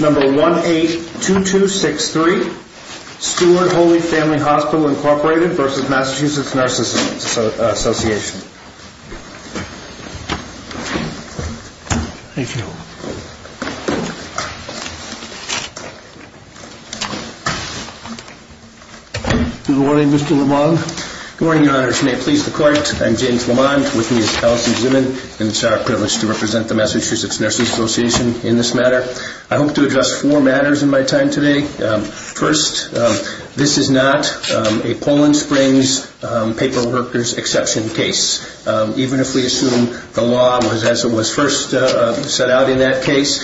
Number 182263, Steward Holy Family Hospital, Inc. v. Massachusetts Nurses Association. Thank you. Good morning, Mr. Lamond. Good morning, Your Honors. May it please the Court, I'm James Lamond. With me is Allison Zimmern and it's our privilege to represent the Massachusetts Nurses Association in this matter. I hope to address four matters in my time today. First, this is not a Poland Springs paperworker's exception case. Even if we assume the law was as it was first set out in that case,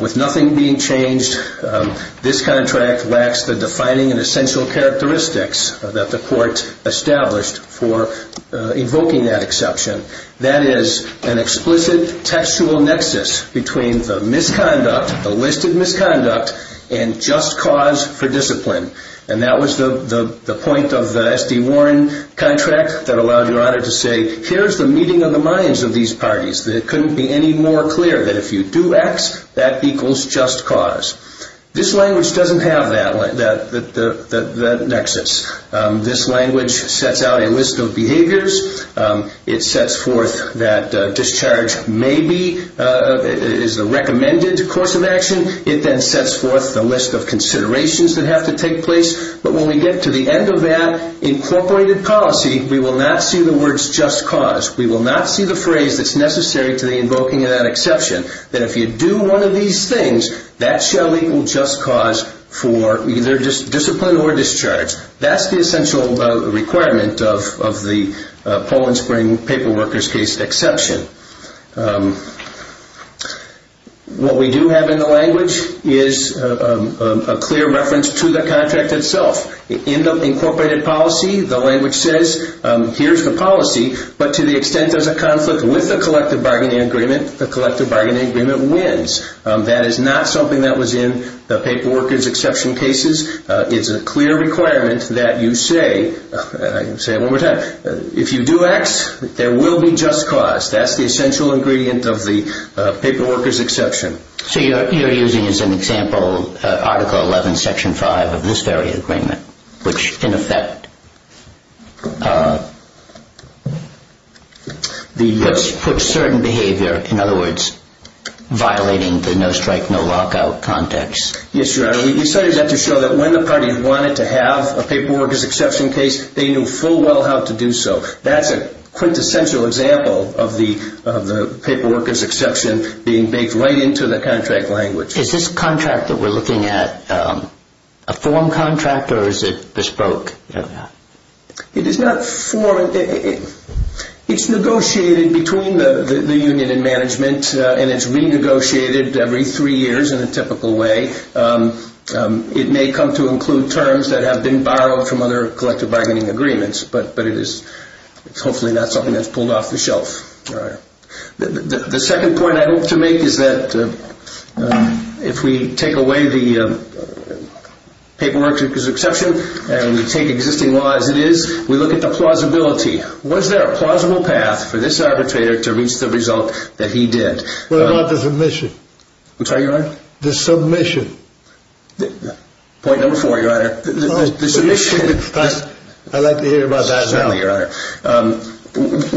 with nothing being changed, this contract lacks the defining and essential characteristics that the Court established for invoking that exception. That is an explicit textual nexus between the misconduct, the listed misconduct, and just cause for discipline. And that was the point of the S.D. Warren contract that allowed Your Honor to say, here's the meeting of the minds of these parties. It couldn't be any more clear that if you do X, that equals just cause. This language doesn't have that nexus. This language sets out a list of behaviors. It sets forth that discharge may be the recommended course of action. It then sets forth the list of considerations that have to take place. But when we get to the end of that incorporated policy, we will not see the words just cause. We will not see the phrase that's necessary to the invoking of that exception. That if you do one of these things, that shall equal just cause for either discipline or discharge. That's the essential requirement of the Poland Spring paperworker's case exception. What we do have in the language is a clear reference to the contract itself. In the incorporated policy, the language says, here's the policy, but to the extent there's a conflict with the collective bargaining agreement, the collective bargaining agreement wins. That is not something that was in the paperworker's exception cases. It's a clear requirement that you say, and I can say it one more time, if you do X, there will be just cause. That's the essential ingredient of the paperworker's exception. So you're using as an example Article 11, Section 5 of this very agreement, which in effect puts certain behavior, in other words, violating the no strike, no lockout context. Yes, Your Honor. We decided that to show that when the party wanted to have a paperworker's exception case, they knew full well how to do so. That's a quintessential example of the paperworker's exception being baked right into the contract language. Is this contract that we're looking at a form contract or is it bespoke? It is not form. It's negotiated between the union and management, and it's renegotiated every three years in a typical way. It may come to include terms that have been borrowed from other collective bargaining agreements, but it is hopefully not something that's pulled off the shelf. The second point I hope to make is that if we take away the paperworker's exception and we take existing law as it is, we look at the plausibility. Was there a plausible path for this arbitrator to reach the result that he did? What about the submission? What's that, Your Honor? The submission. Point number four, Your Honor. I'd like to hear about that as well. Certainly, Your Honor.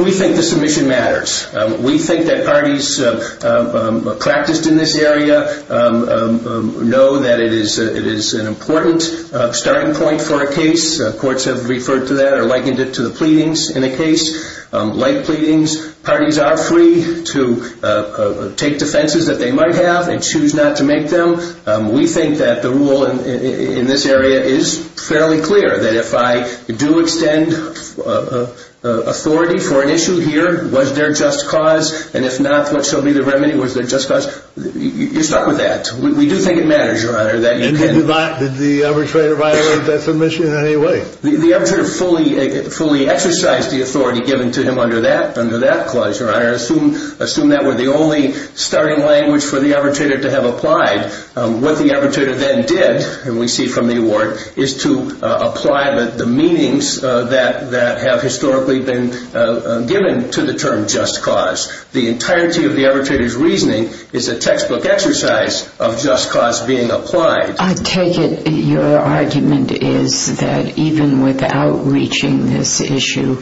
We think the submission matters. We think that parties practiced in this area know that it is an important starting point for a case. Courts have referred to that or likened it to the pleadings in a case. Like pleadings, parties are free to take defenses that they might have and choose not to make them. We think that the rule in this area is fairly clear. That if I do extend authority for an issue here, was there just cause? And if not, what shall be the remedy? Was there just cause? You're stuck with that. We do think it matters, Your Honor. Did the arbitrator violate that submission in any way? The arbitrator fully exercised the authority given to him under that clause, Your Honor. Assume that were the only starting language for the arbitrator to have applied. What the arbitrator then did, and we see from the award, is to apply the meanings that have historically been given to the term just cause. The entirety of the arbitrator's reasoning is a textbook exercise of just cause being applied. I take it your argument is that even without reaching this issue,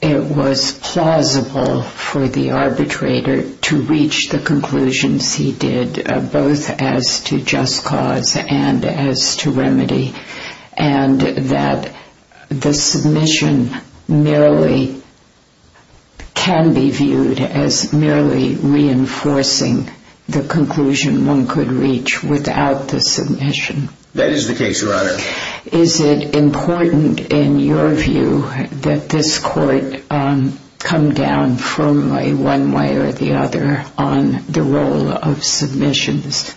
it was plausible for the arbitrator to reach the conclusions he did, both as to just cause and as to remedy, and that the submission merely can be viewed as merely reinforcing the conclusion one could reach without the submission. That is the case, Your Honor. Is it important, in your view, that this court come down firmly one way or the other on the role of submissions?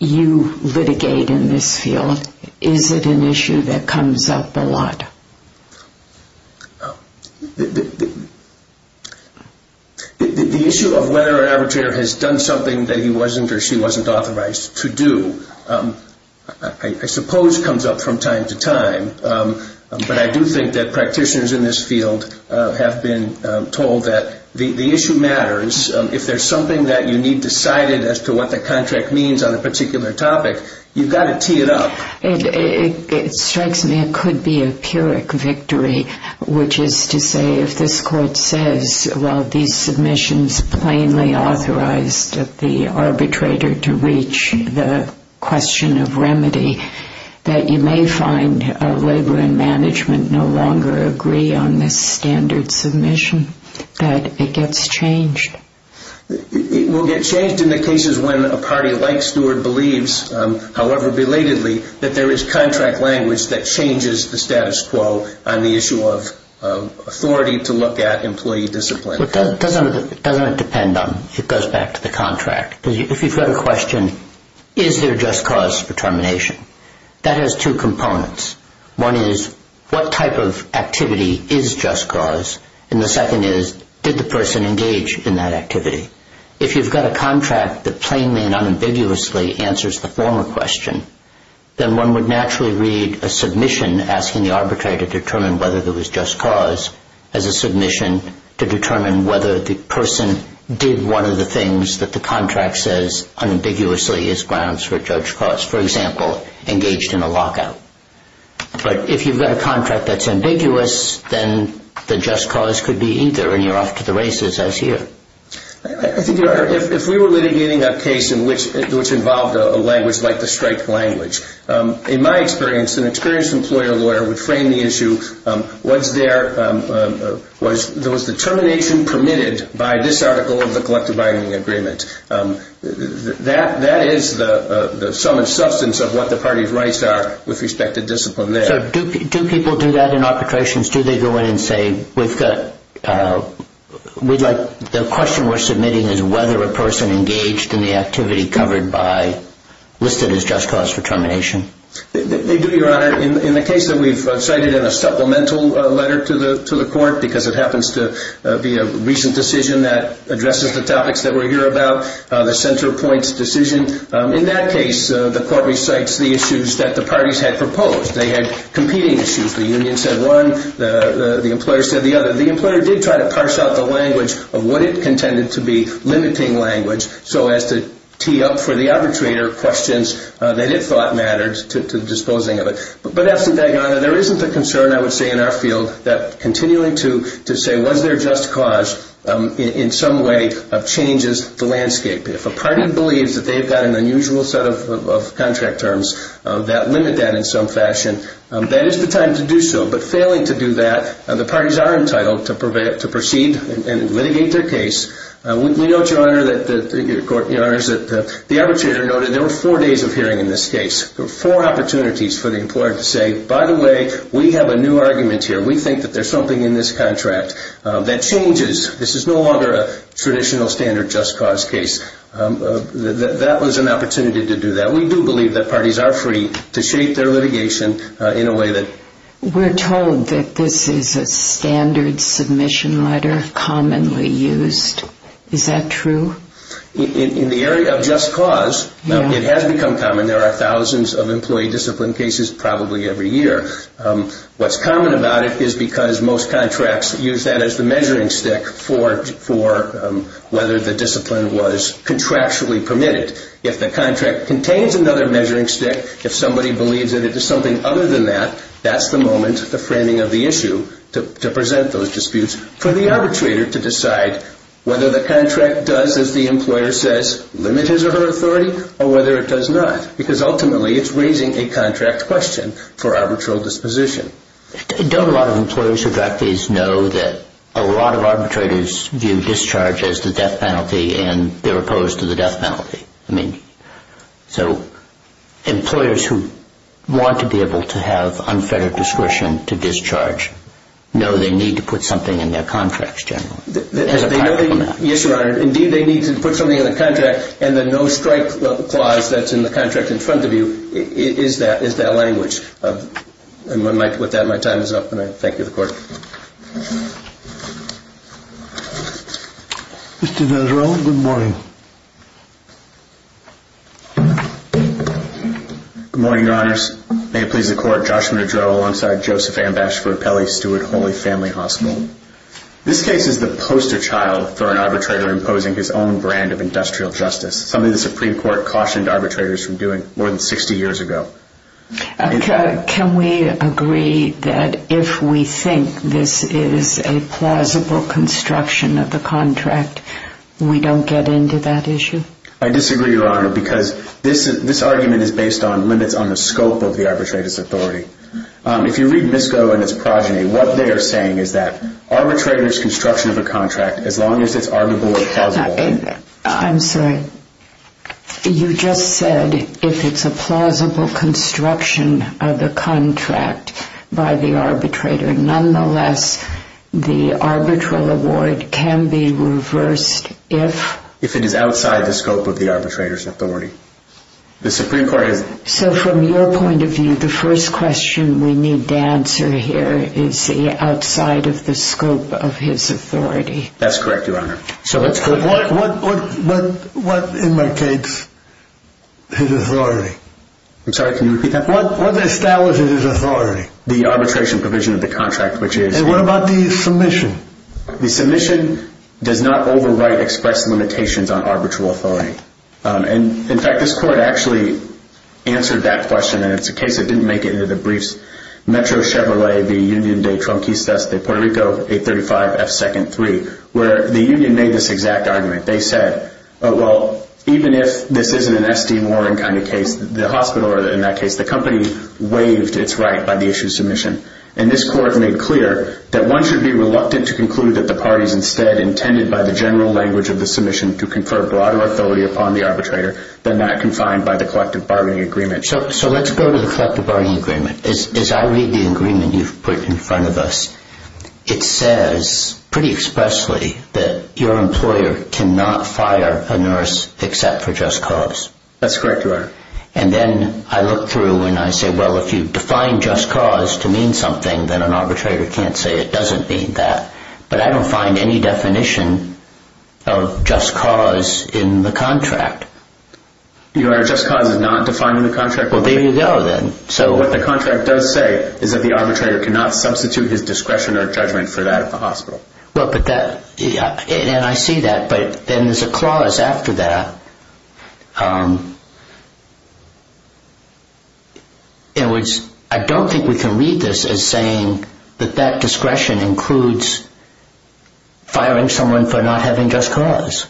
You litigate in this field. Is it an issue that comes up a lot? The issue of whether an arbitrator has done something that he wasn't or she wasn't authorized to do, I suppose comes up from time to time, but I do think that practitioners in this field have been told that the issue matters. If there's something that you need decided as to what the contract means on a particular topic, you've got to tee it up. It strikes me it could be a Pyrrhic victory, which is to say if this court says, while these submissions plainly authorized the arbitrator to reach the question of remedy, that you may find labor and management no longer agree on this standard submission, that it gets changed. It will get changed in the cases when a party like Stewart believes, however belatedly, that there is contract language that changes the status quo on the issue of authority to look at employee discipline. But doesn't it depend on, it goes back to the contract. If you've got a question, is there just cause for termination, that has two components. One is, what type of activity is just cause? And the second is, did the person engage in that activity? If you've got a contract that plainly and unambiguously answers the former question, then one would naturally read a submission asking the arbitrator to determine whether there was just cause as a submission to determine whether the person did one of the things that the contract says unambiguously is grounds for judge cause. For example, engaged in a lockout. But if you've got a contract that's ambiguous, then the just cause could be either, and you're off to the races as here. I think if we were litigating a case which involved a language like the strike language, in my experience, an experienced employer lawyer would frame the issue, was there determination permitted by this article of the collective bargaining agreement? That is the sum and substance of what the parties' rights are with respect to discipline there. So do people do that in arbitrations? Do they go in and say, the question we're submitting is whether a person engaged in the activity covered by, listed as just cause for termination? They do, Your Honor. In the case that we've cited in a supplemental letter to the court, because it happens to be a recent decision that addresses the topics that we're here about, the center points decision. In that case, the court recites the issues that the parties had proposed. They had competing issues. The union said one. The employer said the other. The employer did try to parse out the language of what it contended to be limiting language so as to tee up for the arbitrator questions that it thought mattered to the disposing of it. But absent that, Your Honor, there isn't a concern, I would say in our field, that continuing to say was there just cause in some way changes the landscape. If a party believes that they've got an unusual set of contract terms that limit that in some fashion, that is the time to do so. But failing to do that, the parties are entitled to proceed and litigate their case. We know, Your Honor, that the arbitrator noted there were four days of hearing in this case. There were four opportunities for the employer to say, by the way, we have a new argument here. We think that there's something in this contract that changes. This is no longer a traditional standard just cause case. That was an opportunity to do that. We do believe that parties are free to shape their litigation in a way that... We're told that this is a standard submission letter commonly used. Is that true? In the area of just cause, it has become common. There are thousands of employee discipline cases probably every year. What's common about it is because most contracts use that as the measuring stick for whether the discipline was contractually permitted. If the contract contains another measuring stick, if somebody believes that it is something other than that, that's the moment, the framing of the issue, to present those disputes for the arbitrator to decide whether the contract does, as the employer says, limit his or her authority or whether it does not because ultimately it's raising a contract question for arbitral disposition. Don't a lot of employers who draft these know that a lot of arbitrators view discharge as the death penalty and they're opposed to the death penalty? So employers who want to be able to have unfettered discretion to discharge know they need to put something in their contracts generally? Yes, Your Honor. Indeed, they need to put something in the contract and the no-strike clause that's in the contract in front of you is that language. With that, my time is up and I thank you, the Court. Mr. Nadarone, good morning. Good morning, Your Honors. May it please the Court, Joshua Nadarone alongside Joseph Ambash for Appellee Steward Holy Family Hospital. This case is the poster child for an arbitrator imposing his own brand of industrial justice, something the Supreme Court cautioned arbitrators from doing more than 60 years ago. Can we agree that if we think this is a plausible construction of the contract, we don't get into that issue? I disagree, Your Honor, because this argument is based on limits on the scope of the arbitrator's authority. If you read MISCO and its progeny, what they are saying is that arbitrators' construction of a contract, as long as it's arguable or plausible... I'm sorry. You just said if it's a plausible construction of the contract by the arbitrator. Nonetheless, the arbitral award can be reversed if... If it is outside the scope of the arbitrator's authority. The Supreme Court has... So from your point of view, the first question we need to answer here is outside of the scope of his authority. That's correct, Your Honor. What imitates his authority? I'm sorry, can you repeat that? What establishes his authority? The arbitration provision of the contract, which is... And what about the submission? The submission does not overwrite expressed limitations on arbitral authority. In fact, this Court actually answered that question. And it's a case that didn't make it into the briefs. Metro Chevrolet v. Union de Trunquistas de Puerto Rico 835F2-3, where the Union made this exact argument. They said, well, even if this isn't an S.D. Warren kind of case, the hospital in that case, the company waived its right by the issue of submission. And this Court made clear that one should be reluctant to conclude that the parties by the general language of the submission to confer broader authority upon the arbitrator than that confined by the collective bargaining agreement. So let's go to the collective bargaining agreement. As I read the agreement you've put in front of us, it says pretty expressly that your employer cannot fire a nurse except for just cause. That's correct, Your Honor. And then I look through and I say, well, if you define just cause to mean something, then an arbitrator can't say it doesn't mean that. But I don't find any definition of just cause in the contract. Your Honor, just cause is not defined in the contract? Well, there you go then. So what the contract does say is that the arbitrator cannot substitute his discretion or judgment for that at the hospital. And I see that, but then there's a clause after that. In other words, I don't think we can read this as saying that that discretion includes firing someone for not having just cause.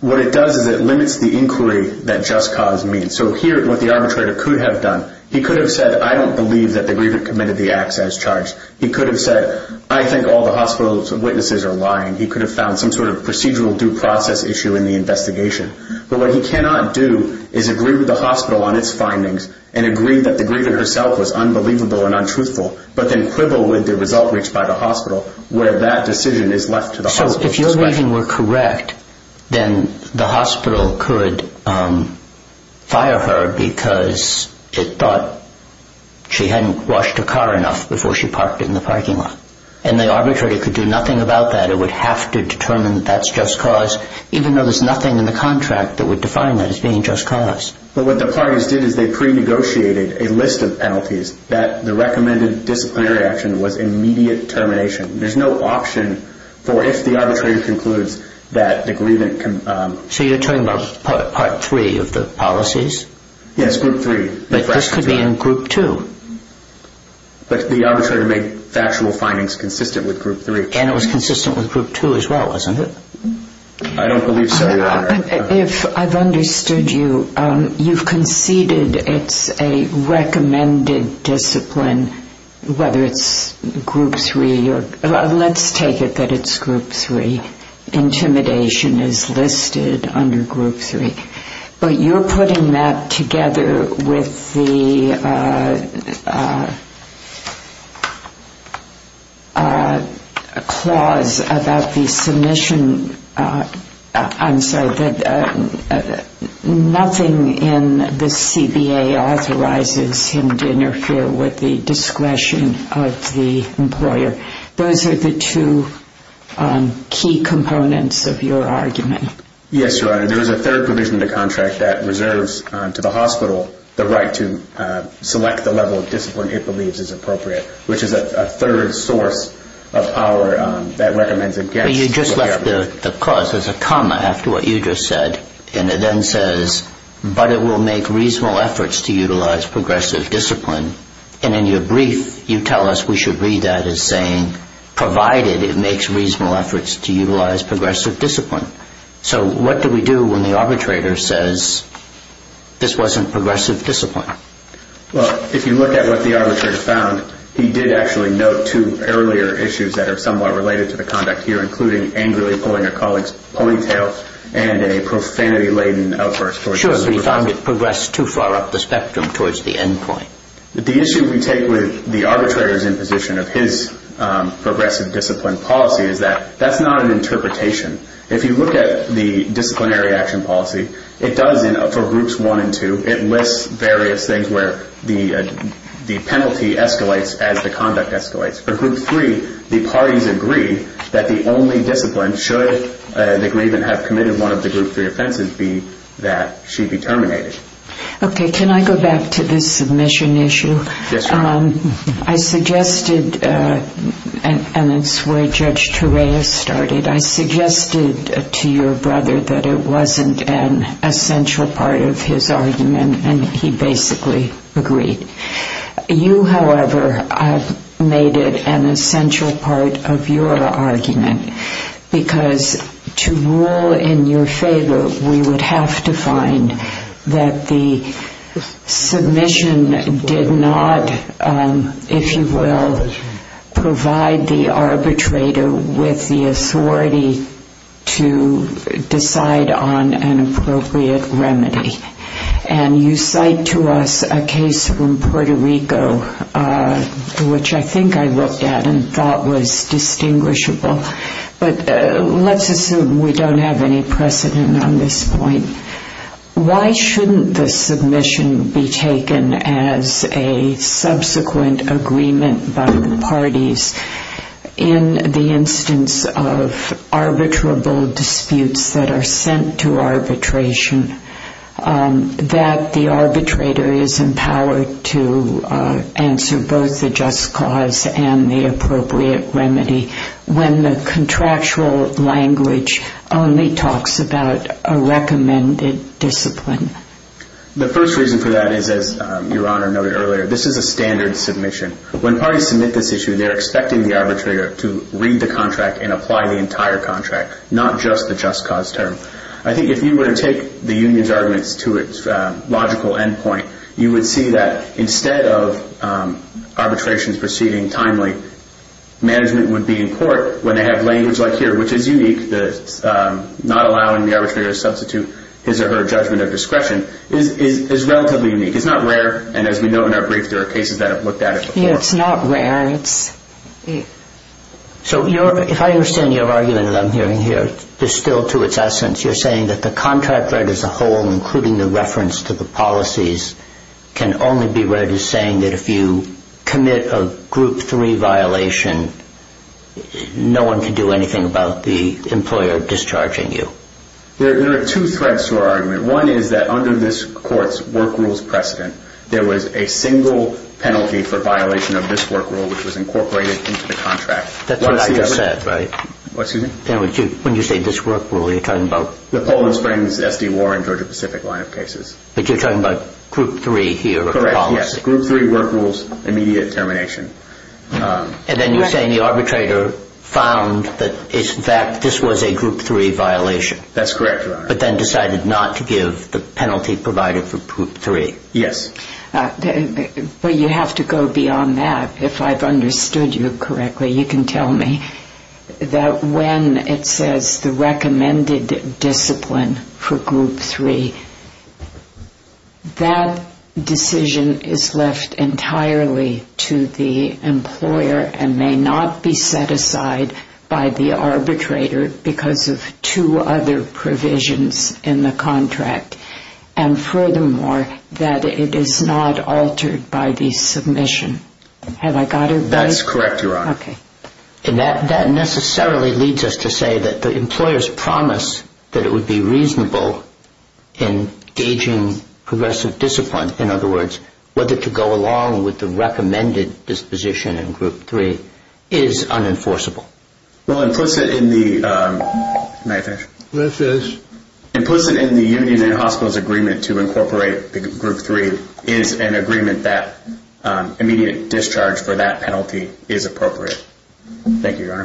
What it does is it limits the inquiry that just cause means. So here what the arbitrator could have done, he could have said, I don't believe that the grievant committed the acts as charged. He could have said, I think all the hospital's witnesses are lying. He could have found some sort of procedural due process issue in the investigation. But what he cannot do is agree with the hospital on its findings and agree that the grievant herself was unbelievable and untruthful, but then quibble with the result reached by the hospital where that decision is left to the hospital's discretion. So if your reading were correct, then the hospital could fire her because it thought she hadn't washed her car enough before she parked it in the parking lot. And the arbitrator could do nothing about that. The arbitrator would have to determine that that's just cause, even though there's nothing in the contract that would define that as being just cause. But what the parties did is they pre-negotiated a list of penalties that the recommended disciplinary action was immediate termination. There's no option for if the arbitrator concludes that the grievant can... So you're talking about Part 3 of the policies? Yes, Group 3. But this could be in Group 2. But the arbitrator made factual findings consistent with Group 3. And it was consistent with Group 2 as well, wasn't it? I don't believe so, Your Honor. If I've understood you, you've conceded it's a recommended discipline, whether it's Group 3 or... let's take it that it's Group 3. Intimidation is listed under Group 3. But you're putting that together with the clause about the submission... I'm sorry, that nothing in the CBA authorizes him to interfere with the discretion of the employer. Those are the two key components of your argument. Yes, Your Honor. There is a third provision of the contract that reserves to the hospital the right to select the level of discipline it believes is appropriate, which is a third source of power that recommends against... You just left the clause. There's a comma after what you just said. And it then says, but it will make reasonable efforts to utilize progressive discipline. And in your brief, you tell us we should read that as saying, provided it makes reasonable efforts to utilize progressive discipline. So what do we do when the arbitrator says this wasn't progressive discipline? Well, if you look at what the arbitrator found, he did actually note two earlier issues that are somewhat related to the conduct here, including angrily pulling a colleague's ponytail and a profanity-laden outburst. Sure, but he found it progressed too far up the spectrum towards the end point. The issue we take with the arbitrator's imposition of his progressive discipline policy is that that's not an interpretation. If you look at the disciplinary action policy, it does, for Groups 1 and 2, it lists various things where the penalty escalates as the conduct escalates. For Group 3, the parties agree that the only discipline, should they even have committed one of the Group 3 offenses, be that she be terminated. Okay, can I go back to the submission issue? Yes, you can. I suggested, and it's where Judge Torreyes started, I suggested to your brother that it wasn't an essential part of his argument, and he basically agreed. You, however, made it an essential part of your argument, because to rule in your favor, we would have to find that the submission did not, if you will, provide the arbitrator with the authority to decide on an appropriate remedy. And you cite to us a case from Puerto Rico, which I think I looked at and thought was distinguishable, but let's assume we don't have any precedent on this point. Why shouldn't the submission be taken as a subsequent agreement by the parties in the instance of arbitrable disputes that are sent to arbitration, that the arbitrator is empowered to answer both the just cause and the appropriate remedy when the contractual language only talks about a recommended discipline? The first reason for that is, as Your Honor noted earlier, this is a standard submission. When parties submit this issue, they're expecting the arbitrator to read the contract and apply the entire contract, not just the just cause term. I think if you were to take the union's arguments to its logical endpoint, you would see that instead of arbitrations proceeding timely, management would be in court when they have language like here, which is unique, not allowing the arbitrator to substitute his or her judgment of discretion, is relatively unique. It's not rare, and as we note in our brief, there are cases that have looked at it before. Yeah, it's not rare. So if I understand your argument that I'm hearing here, distilled to its essence, you're saying that the contract read as a whole, including the reference to the policies, can only be read as saying that if you commit a Group 3 violation, no one can do anything about the employer discharging you. There are two threads to our argument. One is that under this court's work rules precedent, there was a single penalty for violation of this work rule, which was incorporated into the contract. That's what I just said, right? What, excuse me? When you say this work rule, you're talking about? The Poland Springs, SD Warren, Georgia Pacific line of cases. But you're talking about Group 3 here? Correct, yes. Group 3 work rules, immediate termination. And then you're saying the arbitrator found that, in fact, this was a Group 3 violation. That's correct, Your Honor. But then decided not to give the penalty provided for Group 3. Yes. Well, you have to go beyond that. If I've understood you correctly, you can tell me that when it says the recommended discipline for Group 3, that decision is left entirely to the employer and may not be set aside by the arbitrator because of two other provisions in the contract. And furthermore, that it is not altered by the submission. Have I got it right? That's correct, Your Honor. Okay. And that necessarily leads us to say that the employer's promise that it would be reasonable in gauging progressive discipline, in other words, whether to go along with the recommended disposition in Group 3 is unenforceable. Well, implicit in the union and hospitals agreement to incorporate Group 3 is an agreement that immediate discharge for that penalty is appropriate. Thank you, Your Honor. Thank you.